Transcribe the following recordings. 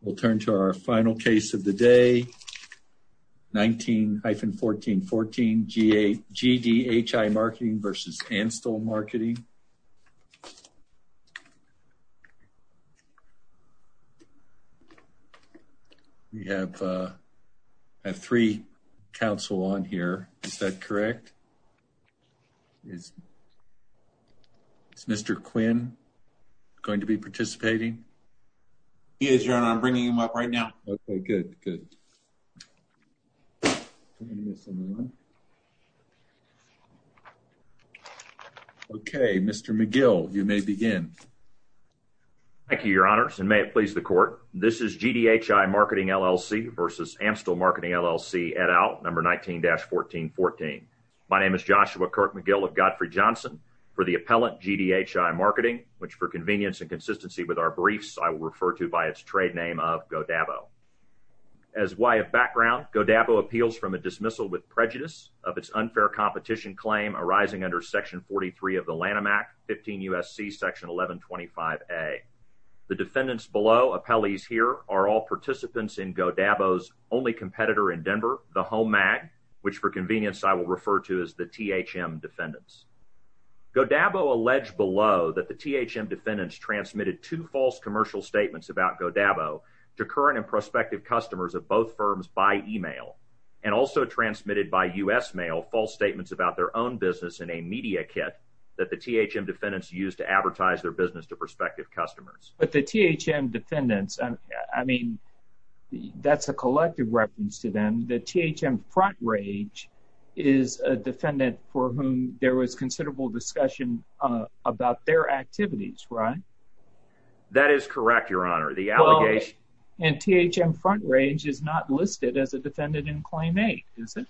We'll turn to our final case of the day. 19-1414 GDHI Marketing v. Anstel Marketing. We have three counsel on here. Is that correct? Yes. Is Mr. Quinn going to be participating? He is, Your Honor. I'm bringing him up right now. Okay, good, good. Okay, Mr. McGill, you may begin. Thank you, Your Honors, and may it please the Court. This is GDHI Marketing LLC v. Anstel Marketing LLC, et al., number 19-1414. My name is Joshua Kirk McGill of Godfrey Johnson. For the appellant, GDHI Marketing, which for convenience and consistency with our briefs, I will refer to by its trade name of Godabo. As why of background, Godabo appeals from a dismissal with prejudice of its unfair competition claim arising under Section 43 of the Lanham Act, 15 U.S.C. Section 1125A. The defendants below, appellees here, are all participants in Godabo's only competitor in Denver, the HOMAG, which for convenience I will refer to as the THM defendants. Godabo alleged below that the THM defendants transmitted two false commercial statements about Godabo to current and prospective customers of both firms by email and also transmitted by U.S. mail false statements about their own business in a media kit that the THM defendants used to advertise their business to prospective customers. But the THM defendants, I mean, that's a collective reference to them. The THM front range is a defendant for whom there was considerable discussion about their activities, right? That is correct, your honor. The allegation and THM front range is not listed as a defendant in claim eight, is it?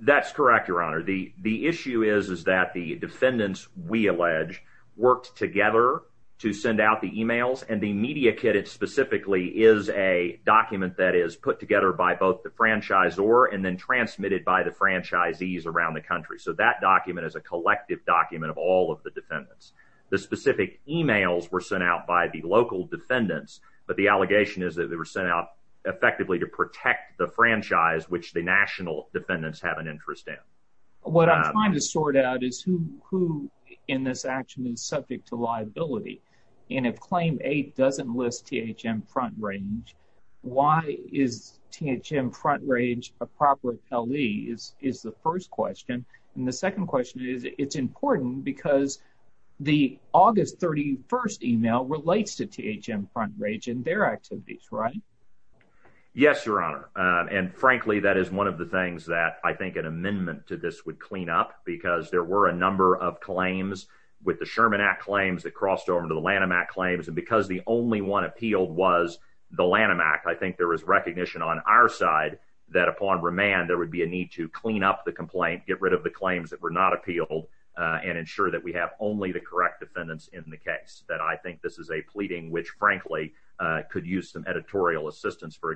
That's correct, your honor. The the issue is, is that the defendants, we allege, worked together to send out the emails and the media kit, it specifically is a document that is put together by both the franchisor and then transmitted by the franchisees around the country. So that document is a collective document of all of the defendants. The specific emails were sent out by the local defendants, but the allegation is that they were sent out effectively to protect the franchise, which the national defendants have an interest in. What I'm trying to sort out is who in this action is subject to liability. And if claim eight doesn't list THM front range, why is THM front range a proper LE is the first question. And the second question is, it's important because the August 31st email relates to THM front range and their activities, right? Yes, your honor. And frankly, that is one of the things that I think an amendment to this would because there were a number of claims with the Sherman Act claims that crossed over into the Lanham Act claims. And because the only one appealed was the Lanham Act, I think there was recognition on our side, that upon remand, there would be a need to clean up the complaint, get rid of the claims that were not appealed, and ensure that we have only the correct defendants in the case that I think this is a pleading, which frankly, could use some editorial assistance for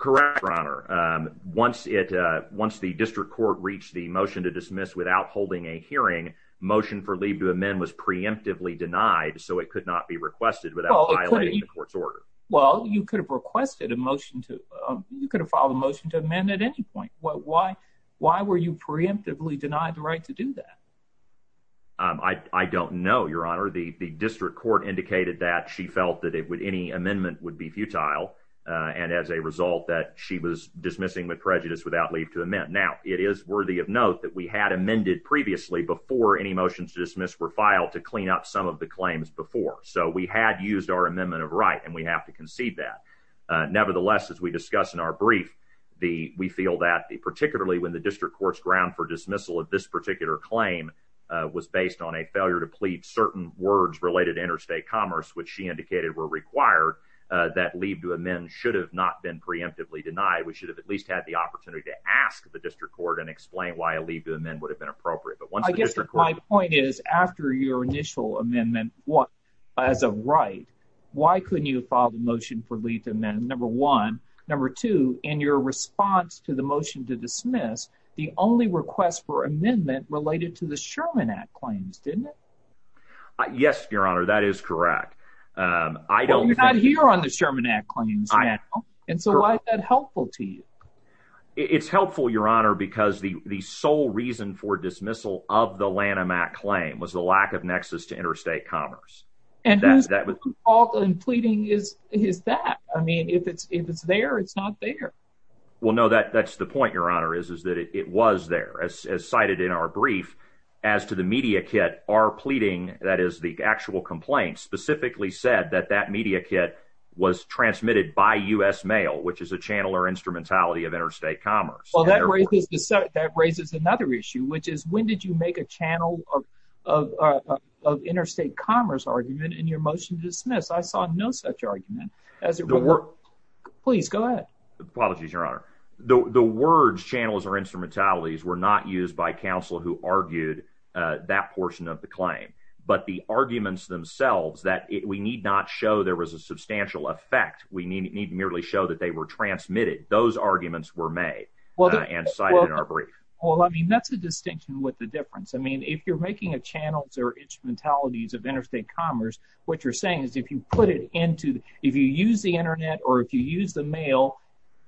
Correct, your honor. Once it once the district court reached the motion to dismiss without holding a hearing, motion for leave to amend was preemptively denied. So it could not be requested without violating the court's order. Well, you could have requested a motion to you could have filed a motion to amend at any point. Why? Why were you preemptively denied the right to do that? I don't know, your honor, the district court indicated that she felt that it would any amendment would be futile. And as a result that she was dismissing with prejudice without leave to amend. Now, it is worthy of note that we had amended previously before any motions to dismiss were filed to clean up some of the claims before so we had used our amendment of right and we have to concede that. Nevertheless, as we discuss in our brief, the we feel that particularly when the district court's ground for dismissal of this claim was based on a failure to plead certain words related interstate commerce, which she indicated were required, that leave to amend should have not been preemptively denied. We should have at least had the opportunity to ask the district court and explain why a leave to amend would have been appropriate. But once I guess my point is, after your initial amendment, what as a right? Why couldn't you file the motion for leave to amend number one, number two, in your response to the motion to dismiss the only request for amendment related to the Sherman Act claims, didn't it? Yes, your honor, that is correct. I don't hear on the Sherman Act claims. And so why is that helpful to you? It's helpful, your honor, because the the sole reason for dismissal of the Lanham Act claim was the lack of nexus to interstate commerce. And that's that was often pleading is his that I mean, if it's if it's there, it's not there. Well, no, that that's the point your honor is, is that it was there as cited in our brief, as to the media kit are pleading that is the actual complaint specifically said that that media kit was transmitted by us mail, which is a channel or instrumentality of interstate commerce. Well, that raises the set that raises another issue, which is when did you make a channel of interstate commerce argument in your motion to dismiss? I saw no such argument, as it were. Please go ahead. Apologies, your honor. The words channels or instrumentalities were not used by counsel who argued that portion of the claim, but the arguments themselves that we need not show there was a substantial effect, we need to merely show that they were transmitted. Those arguments were made. Well, and cited in our brief. Well, I mean, that's a distinction with difference. I mean, if you're making a channels or instrumentalities of interstate commerce, what you're saying is, if you put it into, if you use the internet, or if you use the mail,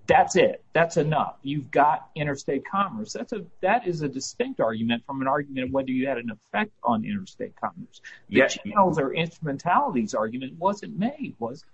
that's it. That's enough. You've got interstate commerce. That's a that is a distinct argument from an argument of whether you had an effect on interstate commerce. Yes, those are instrumentalities argument wasn't made was.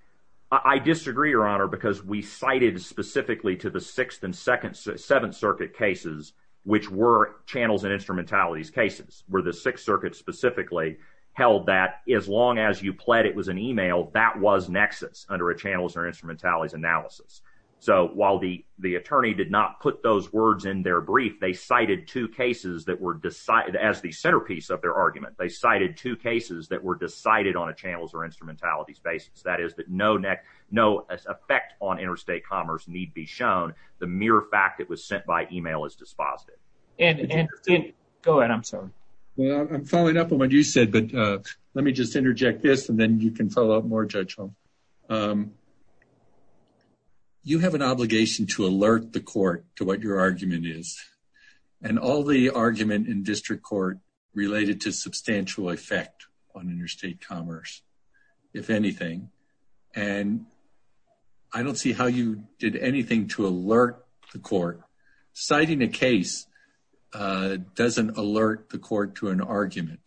I disagree, your honor, because we cited specifically to the Sixth and Second Seventh Circuit cases, which were channels and instrumentalities cases were the Sixth Circuit specifically held that as long as you pled it was an email that was nexus under a channels or instrumentalities analysis. So while the the attorney did not put those words in their brief, they cited two cases that were decided as the centerpiece of their argument, they cited two cases that were decided on a channels or instrumentalities basis, that is no neck, no effect on interstate commerce need be shown. The mere fact that was sent by email is dispositive. And go ahead. I'm sorry. Well, I'm following up on what you said. But let me just interject this and then you can follow up more judgment. You have an obligation to alert the court to what your argument is. And all the argument in district court related to substantial effect on interstate commerce, if anything, and I don't see how you did anything to alert the court, citing a case doesn't alert the court to an argument.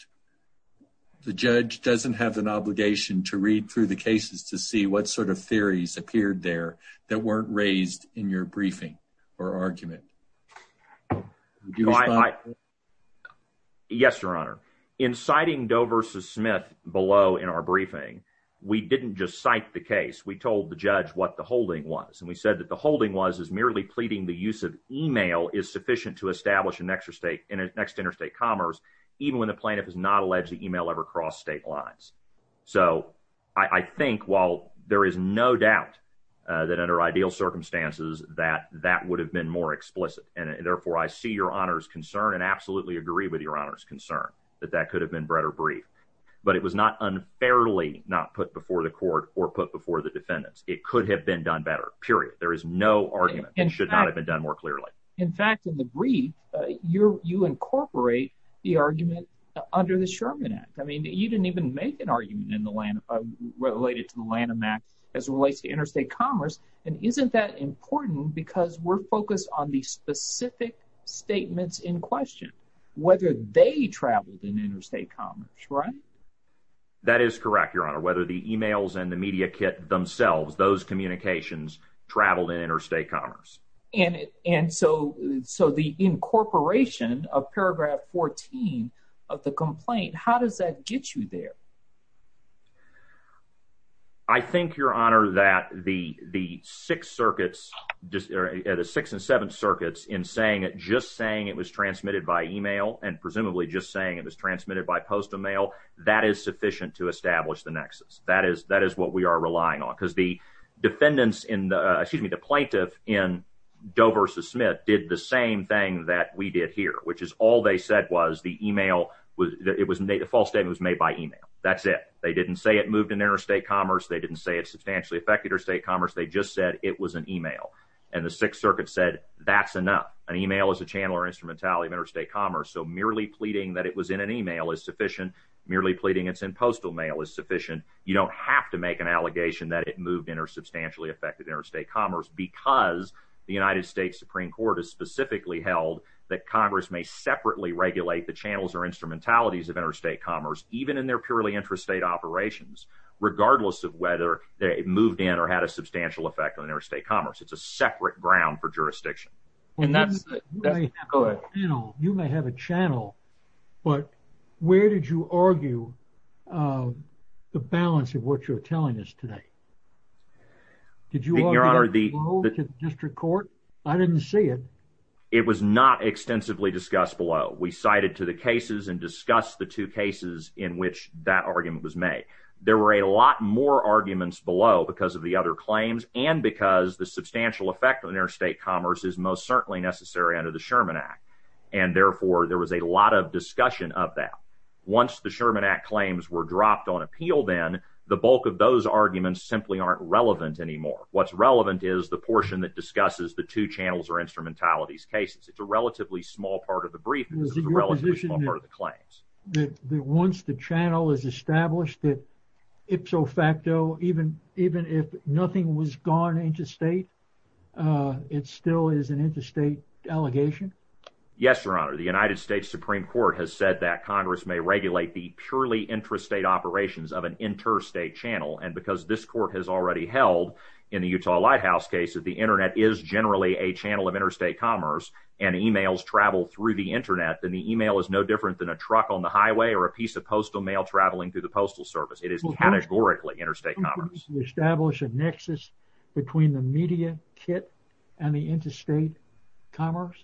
The judge doesn't have an obligation to read through the cases to see what sort of theories appeared there that weren't raised in your briefing or argument. Yes, Your Honor, inciting Doe versus Smith below in our briefing, we didn't just cite the case, we told the judge what the holding was. And we said that the holding was is merely pleading the use of email is sufficient to establish an extra state and next interstate commerce, even when the plaintiff is not alleged to email ever cross state lines. So I think while there is no doubt that under ideal circumstances, that that would have been more explicit. And therefore, I see your honors concern and absolutely agree with your honors concern that that could have been better brief. But it was not unfairly not put before the court or put before the defendants, it could have been done better, period. There is no argument and should not have been done more clearly. In fact, in the brief, you're you incorporate the argument under the Sherman Act. I mean, you didn't even make an argument in the land related to the Lanham Act as it relates to interstate commerce. And isn't that important because we're focused on the specific statements in question, whether they traveled in interstate commerce, right? That is correct, Your Honor, whether the emails and the media kit themselves, those communications traveled in interstate commerce. And and so so the incorporation of paragraph 14 of the complaint, how does that get you there? I think your honor that the the six circuits, the six and seven circuits in saying it just saying it was transmitted by email, and presumably just saying it was transmitted by post email, that is sufficient to establish the nexus that is that is what we are relying on because the defendants in the excuse me, the plaintiff in Doe versus Smith did the same thing that we did here, which is all they said was the email was it was made a false statement was made by email. That's it. They didn't say it moved in interstate commerce. They didn't say it substantially affected our state commerce. They just said it was an email. And the Sixth Circuit said that's enough. An email is a channel or instrumentality of interstate commerce. So merely pleading that it was in an email is sufficient. Merely pleading it's in postal mail is sufficient. You don't have to make an allegation that it moved in or substantially affected interstate commerce, because the United States Supreme Court has specifically held that Congress may separately regulate the channels or instrumentalities of interstate commerce, even in their purely interstate operations, regardless of whether they moved in or had a substantial effect on their state commerce. It's a separate ground for jurisdiction. And that's, you know, you may have a channel. But where did you argue the balance of what you're telling us today? Did you honor the district court? I didn't see it. It was not extensively discussed below. We cited to the cases and discuss the two cases in which that argument was made. There were a lot more arguments below because of the other claims and because the substantial effect on their state commerce is most certainly necessary under the Sherman Act. And therefore, there was a lot of discussion of that. Once the Sherman Act claims were dropped on appeal, then the bulk of those arguments simply aren't relevant anymore. What's relevant is the portion that discusses the two channels or instrumentalities cases. It's a relatively small part of the briefings, relatively small part of the claims. Once the channel is established that ipso facto, even if nothing was gone into state, it still is an interstate delegation. Yes, Your Honor, the United States Supreme Court has said that Congress may regulate the purely intrastate operations of an interstate channel. And because this court has already held in the Utah Lighthouse case that the Internet is generally a channel of interstate commerce and emails travel through the Internet, then the email is no different than a truck on the highway or a piece of postal mail traveling through the postal service. It is categorically interstate commerce. Establish a nexus between the media kit and the interstate commerce.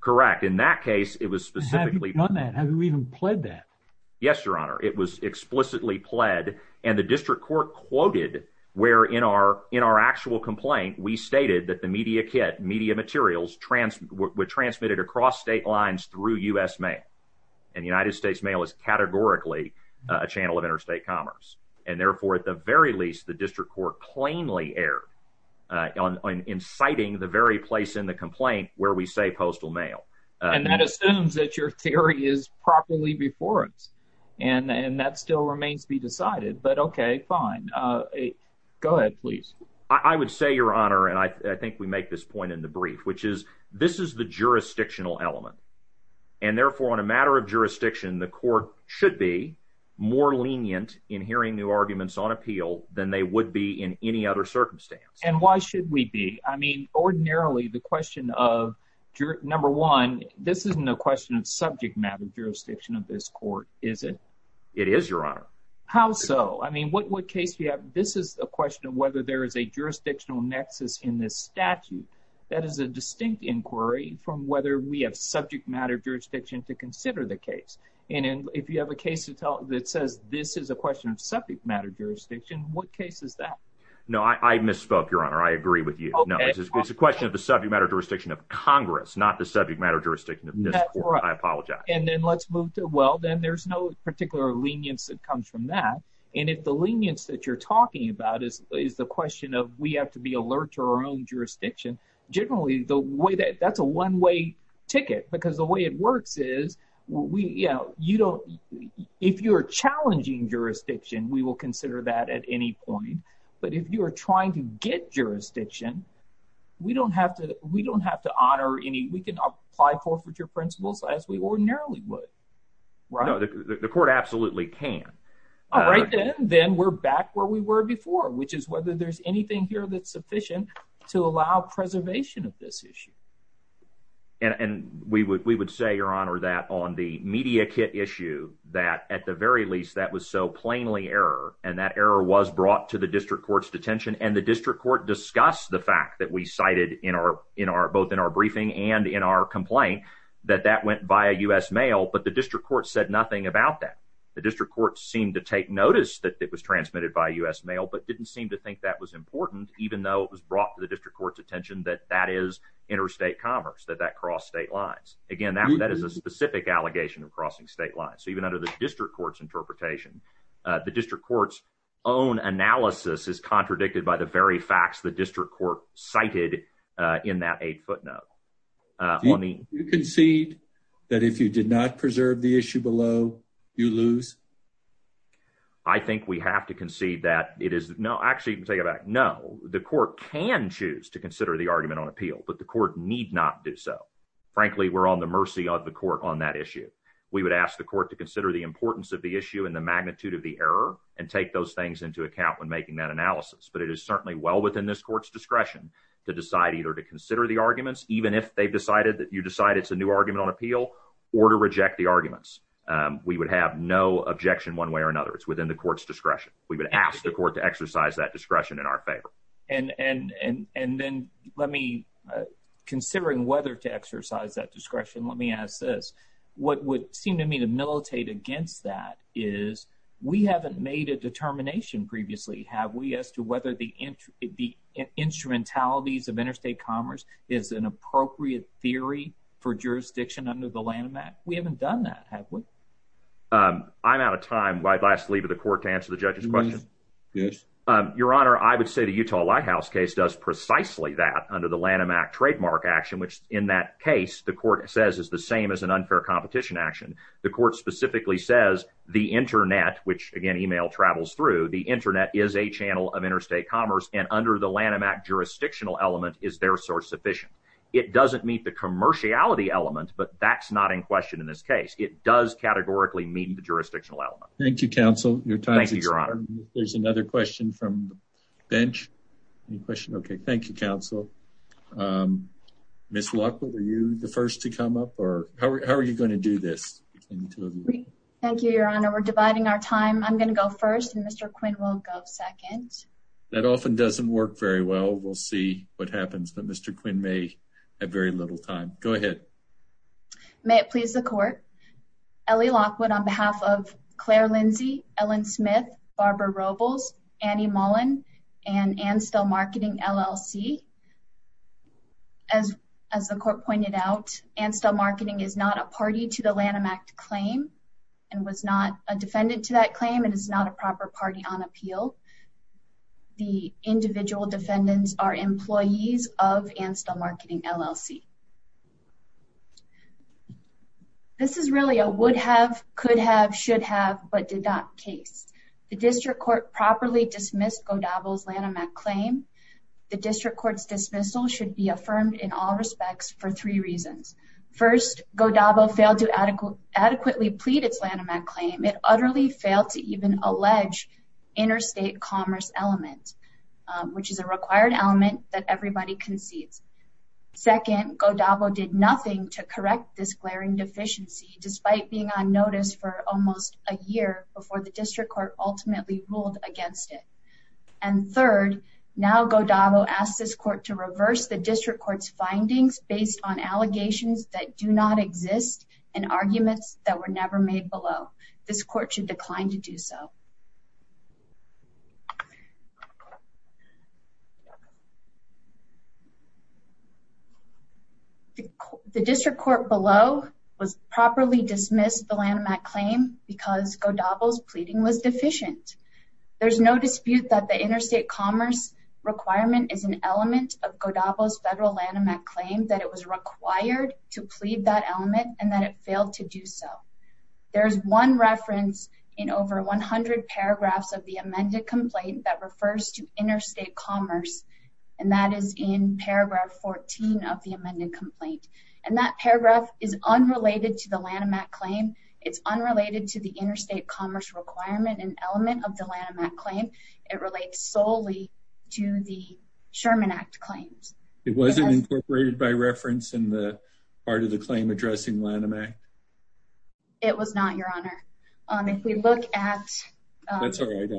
Correct. In that case, it was specifically on that. Have you even played that? Yes, Your Honor. It was explicitly pled. And the district court quoted where in our in our actual complaint, we stated that the media kit media materials were transmitted across state lines through U.S. mail and United States mail is categorically a channel of interstate commerce. And therefore, at the very least, the district court plainly erred on inciting the very place in the complaint where we say postal mail. And that assumes that your theory is properly before us. And that still remains to be decided. But OK, fine. Go ahead, please. I would say, Your Honor, and I think we make this point in the brief, which is this is the jurisdictional element. And therefore, on a matter of jurisdiction, the court should be more lenient in hearing new arguments on appeal than they would be in any other circumstance. And why should we be? I mean, ordinarily, the question of number one, this isn't a question of subject matter jurisdiction of this court, is it? It is, Your Honor. How so? I mean, what case you have? This is a question of whether there is a jurisdictional nexus in this statute. That is a distinct inquiry from whether we have subject matter jurisdiction to consider the case. And if you have a case that says this is a question of subject matter jurisdiction, what case is that? No, I misspoke, Your Honor. I agree with you. No, it's a question of the subject matter jurisdiction of Congress, not the subject matter jurisdiction of this court. I apologize. And then let's move to well, then there's no particular lenience that comes from that. And if the lenience that you're talking about is the question of we have to be alert to our own jurisdiction, generally, the way that that's a one-way ticket, because the way it works is we, you know, you don't, if you're challenging jurisdiction, we will consider that at any point. But if you're trying to get jurisdiction, we don't have to, we don't have to honor any, we can apply forfeiture principles as we ordinarily would, right? No, the court absolutely can. All right, then, then we're back where we were before, which is whether there's anything here that's sufficient to allow preservation of this issue. And we would, we would say, Your Honor, that on the media kit issue, that at the very least, that was so plainly error. And that error was brought to the district court's detention. And the district court discussed the fact that we cited in our, in our, both in our briefing and in our complaint, that that went by a U.S. mail, but the district court said nothing about that. The district court seemed to take notice that it was transmitted by U.S. mail, but didn't seem to think that was important, even though it was brought to the district court's attention that that is interstate commerce, that that crossed state lines. Again, that is a specific allegation of crossing state lines. So even under the district court's interpretation, the district court's own analysis is contradicted by the very facts the district court cited in that eight footnote. You concede that if you did not preserve the issue below, you lose? I think we have to concede that it is, no, actually, take it back. No, the court can choose to consider the argument on appeal, but the court need not do so. Frankly, we're on the mercy of the court on that issue. We would ask the court to consider the importance of the issue and the magnitude of the error and take those things into account when making that analysis. But it is certainly well within this court's discretion to decide either to consider the arguments, even if they've decided that you decide it's a new argument on appeal, or to reject the arguments. We would have no objection one way or another. It's within the court's discretion. And then let me, considering whether to exercise that discretion, let me ask this. What would seem to me to militate against that is we haven't made a determination previously, have we, as to whether the instrumentalities of interstate commerce is an appropriate theory for jurisdiction under the Lanham Act? We haven't done that, have we? I'm out of time. I'd like to leave it to the court to answer the judge's question. Your Honor, I would say the Utah Lighthouse case does precisely that under the Lanham Act trademark action, which in that case, the court says is the same as an unfair competition action. The court specifically says the internet, which again, email travels through, the internet is a channel of interstate commerce and under the Lanham Act jurisdictional element is their source sufficient. It doesn't meet the commerciality element, but that's not in question in this case. It does categorically meet the jurisdictional element. Thank you, counsel. Thank you, Your Honor. There's another question from the bench. Any question? Okay. Thank you, counsel. Ms. Lockwood, are you the first to come up or how are you going to do this? Thank you, Your Honor. We're dividing our time. I'm going to go first and Mr. Quinn will go second. That often doesn't work very well. We'll see what happens, but Mr. Quinn may have very little time. Go ahead. May it please the court. Ellie Lockwood on behalf of Claire Lindsey, Ellen Smith, Barbara Robles, Annie Mullen, and Anstel Marketing LLC. As the court pointed out, Anstel Marketing is not a party to the Lanham Act claim and was not a defendant to that claim and is not a proper party on appeal. The individual defendants are employees of Anstel Marketing LLC. This is really a would have, could have, should have, but did not case. The district court properly dismissed Godabo's Lanham Act claim. The district court's dismissal should be affirmed in all respects for three reasons. First, Godabo failed to adequately plead its Lanham Act claim. It utterly failed to even allege interstate commerce element, which is a required element that everybody concedes. Second, Godabo did nothing to correct this glaring deficiency despite being on notice for almost a year before the district court ultimately ruled against it. And third, now Godabo asked this court to reverse the district court's findings based on allegations that do not exist and arguments that were never made below. This court should decline to do so. The district court below was properly dismissed the Lanham Act claim because Godabo's pleading was deficient. There's no dispute that the interstate commerce requirement is an element of Godabo's federal Lanham Act claim that it was required to plead that element and that it failed to do so. There's one reference in over 100 paragraphs of the amended complaint that refers to interstate commerce and that is in paragraph 14 of the amended complaint. And that paragraph is unrelated to the Lanham Act claim. It's unrelated to the interstate commerce requirement and element of the Lanham Act claim. It relates solely to the Sherman Act claims. It wasn't incorporated by reference in the part of the claim addressing Lanham Act? It was not, your honor. If we look at... That's all right.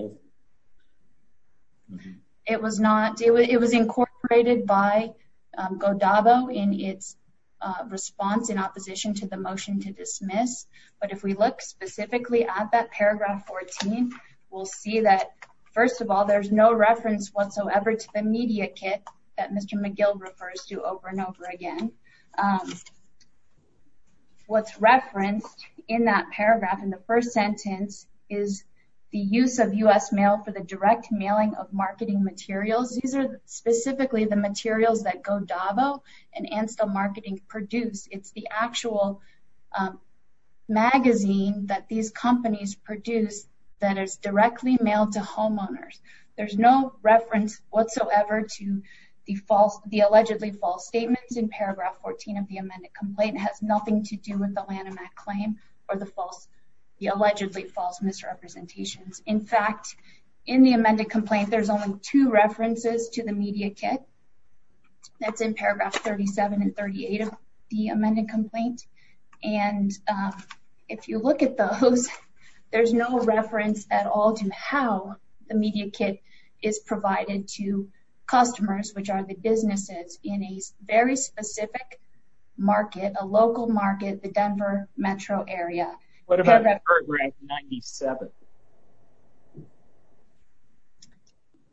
It was incorporated by Godabo in its response in opposition to the motion to dismiss. But if we look specifically at that paragraph 14, we'll see that first of all, there's no reference whatsoever to the media kit that Mr. McGill refers to over and over again. What's referenced in that paragraph in the first sentence is the use of U.S. mail for the direct mailing of marketing materials. These are specifically the materials that Godabo and Anstel Marketing produce. It's the actual magazine that these companies produce that is directly mailed to homeowners. There's no reference whatsoever to the allegedly false statements in paragraph 14 of the amended complaint. It has nothing to do with the Lanham Act claim or the allegedly false misrepresentations. In fact, in the amended complaint, there's only two references to the media kit. That's in paragraph 37 and 38 of the amended complaint. And if you look at those, there's no reference at all to how the media kit is provided to customers, which are the businesses in a very specific market, a local market, the Denver metro area. What about paragraph 97?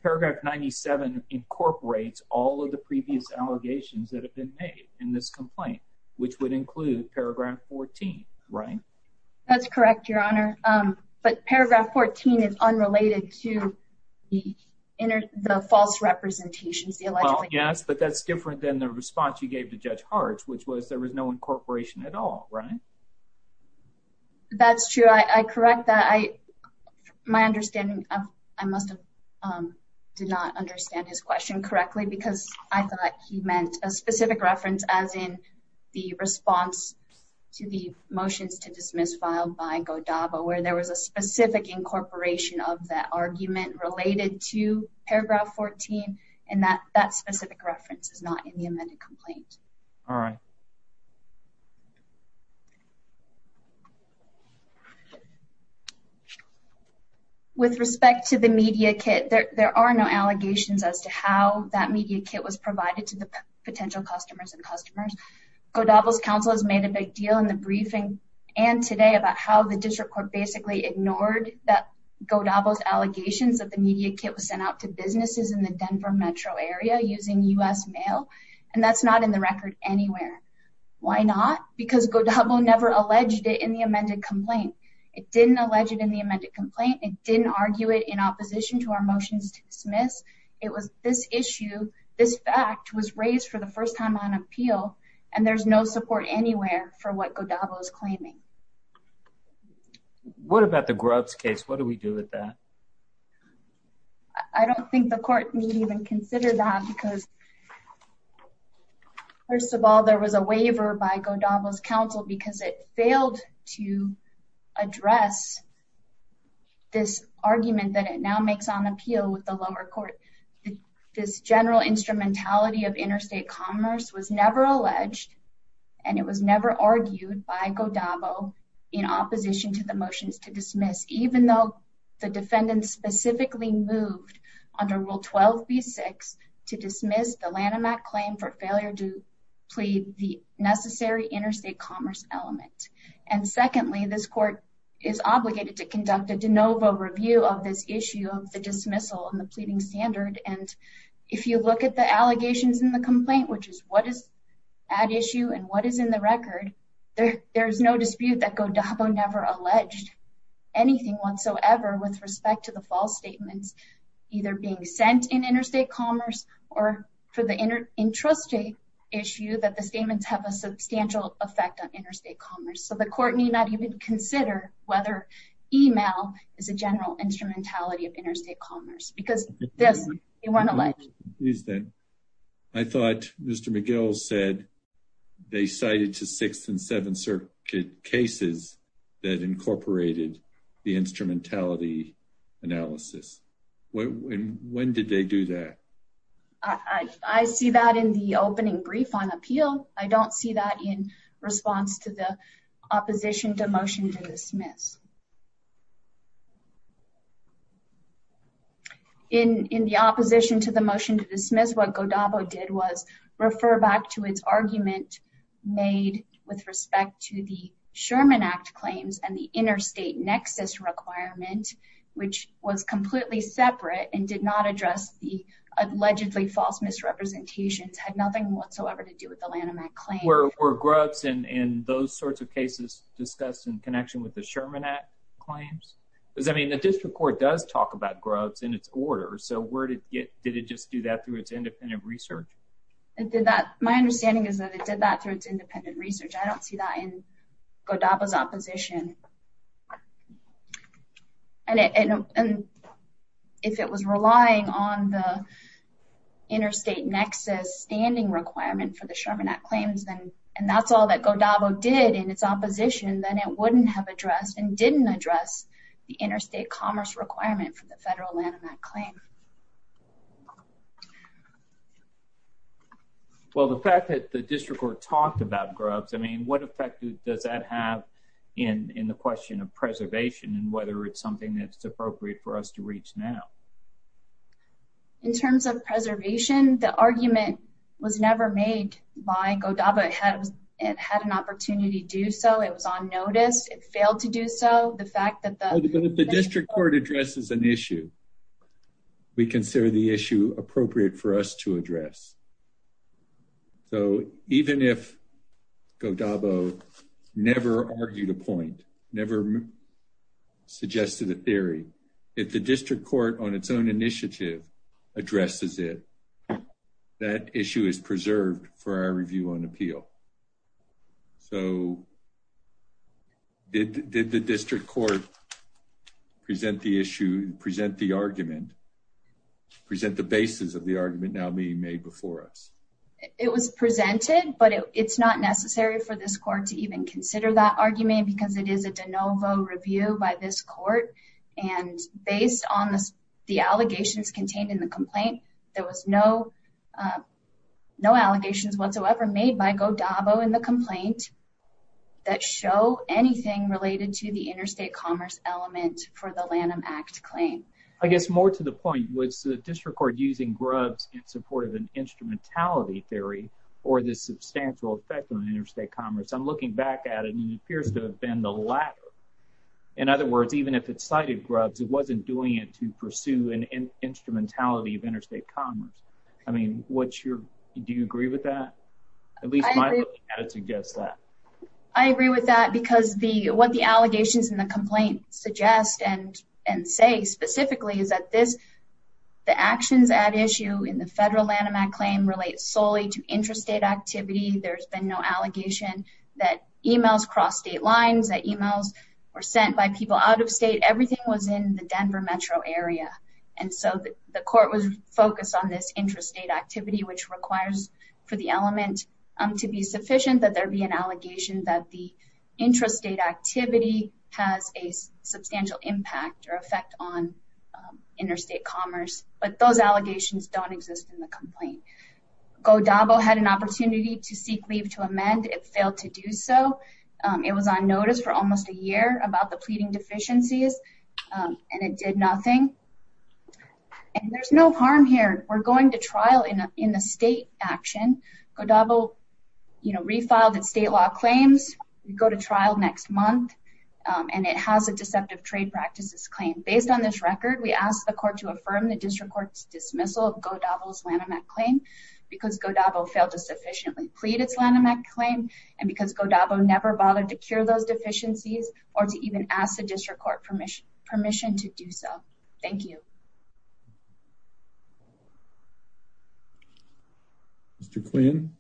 Paragraph 97 incorporates all of the previous allegations that have been made in this complaint, which would include paragraph 14, right? That's correct, Your Honor. But paragraph 14 is unrelated to the false representations. Yes, but that's different than the response you gave to Judge Hart, which was there was no incorporation at all, right? That's true. I correct that. My understanding, I must have did not understand his question correctly because I thought he meant a specific reference as in the response to the motions to incorporation of that argument related to paragraph 14, and that specific reference is not in the amended complaint. All right. With respect to the media kit, there are no allegations as to how that media kit was provided to the potential customers and customers. Godavel's counsel has made a big deal in the briefing and today about how the district court basically ignored that Godavel's allegations that the media kit was sent out to businesses in the Denver metro area using U.S. mail, and that's not in the record anywhere. Why not? Because Godavel never alleged it in the amended complaint. It didn't allege it in the amended complaint. It didn't argue it in opposition to our motions to dismiss. It was this issue, this fact was raised for the first time on appeal, and there's no support anywhere for what Godavel is claiming. What about the Grubbs case? What do we do with that? I don't think the court need even consider that because first of all, there was a waiver by Godavel's counsel because it failed to address this argument that it now makes on appeal with the lower court. This general instrumentality of interstate commerce was never alleged, and it was never argued by Godavel in opposition to the motions to dismiss, even though the defendant specifically moved under Rule 12b-6 to dismiss the Lanham Act claim for failure to plead the necessary interstate commerce element. And secondly, this court is obligated to conduct a de novo review of this issue of the dismissal and the pleading standard. And if you look at the allegations in the complaint, which is what is at issue and what is in the record, there is no dispute that Godavel never alleged anything whatsoever with respect to the false statements either being sent in interstate commerce or for the intrastate issue that the statements have a is a general instrumentality of interstate commerce. Because this, they weren't alleged. I thought Mr. McGill said they cited to Sixth and Seventh Circuit cases that incorporated the instrumentality analysis. When did they do that? I see that in the opening brief on appeal. I don't see that in response to the opposition to motion to dismiss. In the opposition to the motion to dismiss, what Godavel did was refer back to its argument made with respect to the Sherman Act claims and the interstate nexus requirement, which was completely separate and did not address the allegedly false misrepresentations, had nothing whatsoever to do with the Lanham Act claim. Were Grubbs and those sorts of cases discussed in connection with the Sherman Act claims? Because I mean, the district court does talk about Grubbs in its order. So where did it get, did it just do that through its independent research? It did that. My understanding is that it did that through its independent research. I don't see that in Godavel's opposition. And if it was relying on the interstate nexus standing requirement for the Sherman Act claims, and that's all that Godavel did in its opposition, then it wouldn't have addressed and didn't address the interstate commerce requirement for the federal Lanham Act claim. Well, the fact that the district court talked about Grubbs, I mean, what effect does that have in the question of preservation and whether it's something that's appropriate for us to reach now? In terms of preservation, the argument was never made by Godavel. It had an opportunity to do so. It was on notice. It failed to do so. The fact that the district court addresses an issue, we consider the issue appropriate for us to address. So even if Godavel never argued a point, never suggested a theory, if the district court on its own initiative addresses it, that present the argument, present the basis of the argument now being made before us. It was presented, but it's not necessary for this court to even consider that argument because it is a de novo review by this court. And based on the allegations contained in the complaint, there was no allegations whatsoever made by Godavel in the complaint that show anything related to the interstate commerce element for the Lanham Act claim. I guess more to the point, was the district court using Grubbs in support of an instrumentality theory or the substantial effect on interstate commerce? I'm looking back at it and it appears to have been the latter. In other words, even if it cited Grubbs, it wasn't doing it to pursue an instrumentality of interstate commerce. I mean, what's your, do you agree with that? At least my allegations in the complaint suggest and say specifically is that this, the actions at issue in the federal Lanham Act claim relates solely to interstate activity. There's been no allegation that emails cross state lines, that emails were sent by people out of state. Everything was in the Denver metro area. And so the court was focused on this interstate activity, which requires for the element to be sufficient, that there'd be an allegation that the intrastate activity has a substantial impact or effect on interstate commerce. But those allegations don't exist in the complaint. Godavel had an opportunity to seek leave to amend. It failed to do so. It was on notice for almost a year about the pleading deficiencies and it did nothing. And there's no harm here. We're going to trial in the state action. Godavel, you know, refiled its state law claims. We go to trial next month. And it has a deceptive trade practices claim. Based on this record, we asked the court to affirm the district court's dismissal of Godavel's Lanham Act claim because Godavel failed to sufficiently plead its Lanham Act claim. And because Godavel never bothered to cure those deficiencies or to even ask the district court permission to do so. Thank you. Mr. Quinn.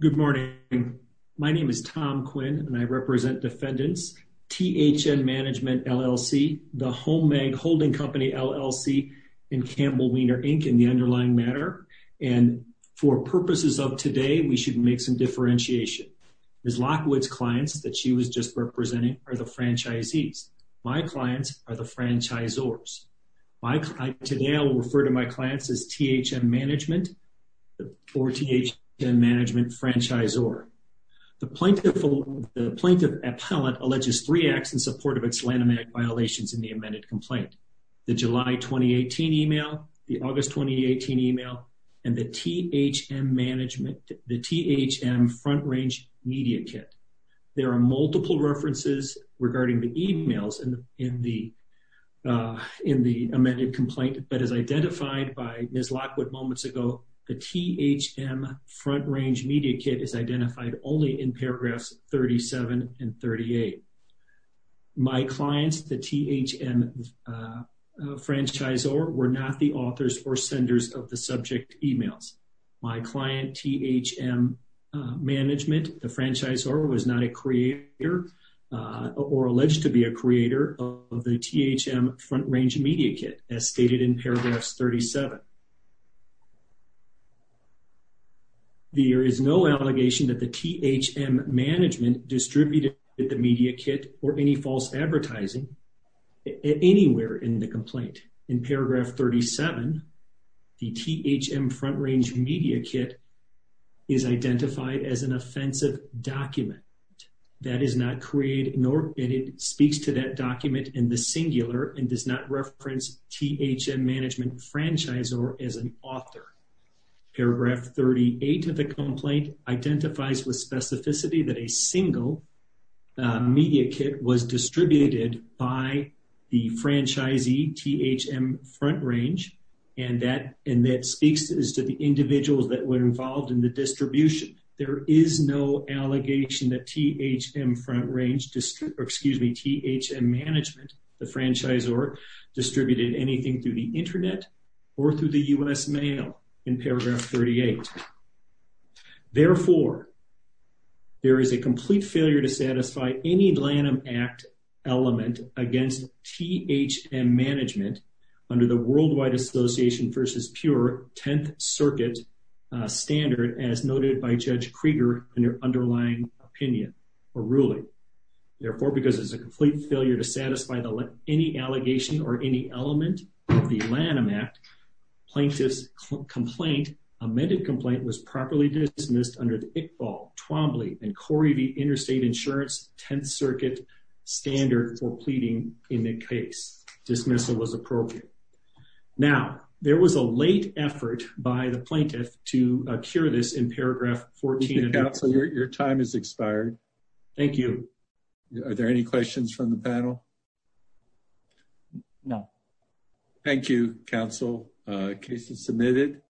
Good morning. My name is Tom Quinn and I represent defendants, THN Management LLC, the Home Mag Holding Company LLC, and Campbell Wiener Inc. in the underlying matter. And for purposes of today, we should make some differentiation. Ms. Lockwood's clients that she was just representing are the franchisees. My clients are the franchisors. Today, I will refer to my clients as THM Management or THM Management Franchisor. The plaintiff appellate alleges three acts in support of its Lanham Act violations in the amended complaint. The July 2018 email, the August 2018 email, and the THM front range media kit. There are multiple references regarding the emails in the amended complaint that is identified by Ms. Lockwood moments ago. The THM front range media kit is identified only in paragraphs 37 and 38. My clients, the THM franchisor, were not the authors or senders of the subject emails. My client, THM Management, the franchisor, was not a creator or alleged to be a creator of the THM front range media kit as stated in paragraphs 37. There is no allegation that the THM Management distributed the media kit or any false advertising anywhere in the complaint. In paragraph 37, the THM front range media kit is identified as an offensive document that is not created nor speaks to that document in the singular and does not reference THM Management Franchisor as an author. Paragraph 38 of the complaint identifies with the franchisee THM front range and that speaks to the individuals that were involved in the distribution. There is no allegation that THM management, the franchisor, distributed anything through the internet or through the U.S. mail in paragraph 38. Therefore, there is a complete failure to satisfy any Lanham Act element against THM Management under the worldwide association versus pure 10th circuit standard as noted by Judge Krieger in your underlying opinion or ruling. Therefore, because there's a complete failure to satisfy any allegation or any element of the Lanham Act, plaintiff's complaint, amended complaint, was properly dismissed under the Corrie v. Interstate Insurance 10th circuit standard for pleading in the case. Dismissal was appropriate. Now, there was a late effort by the plaintiff to cure this in paragraph 14. Your time has expired. Thank you. Are there any questions from the panel? No. Thank you, counsel. Case is submitted.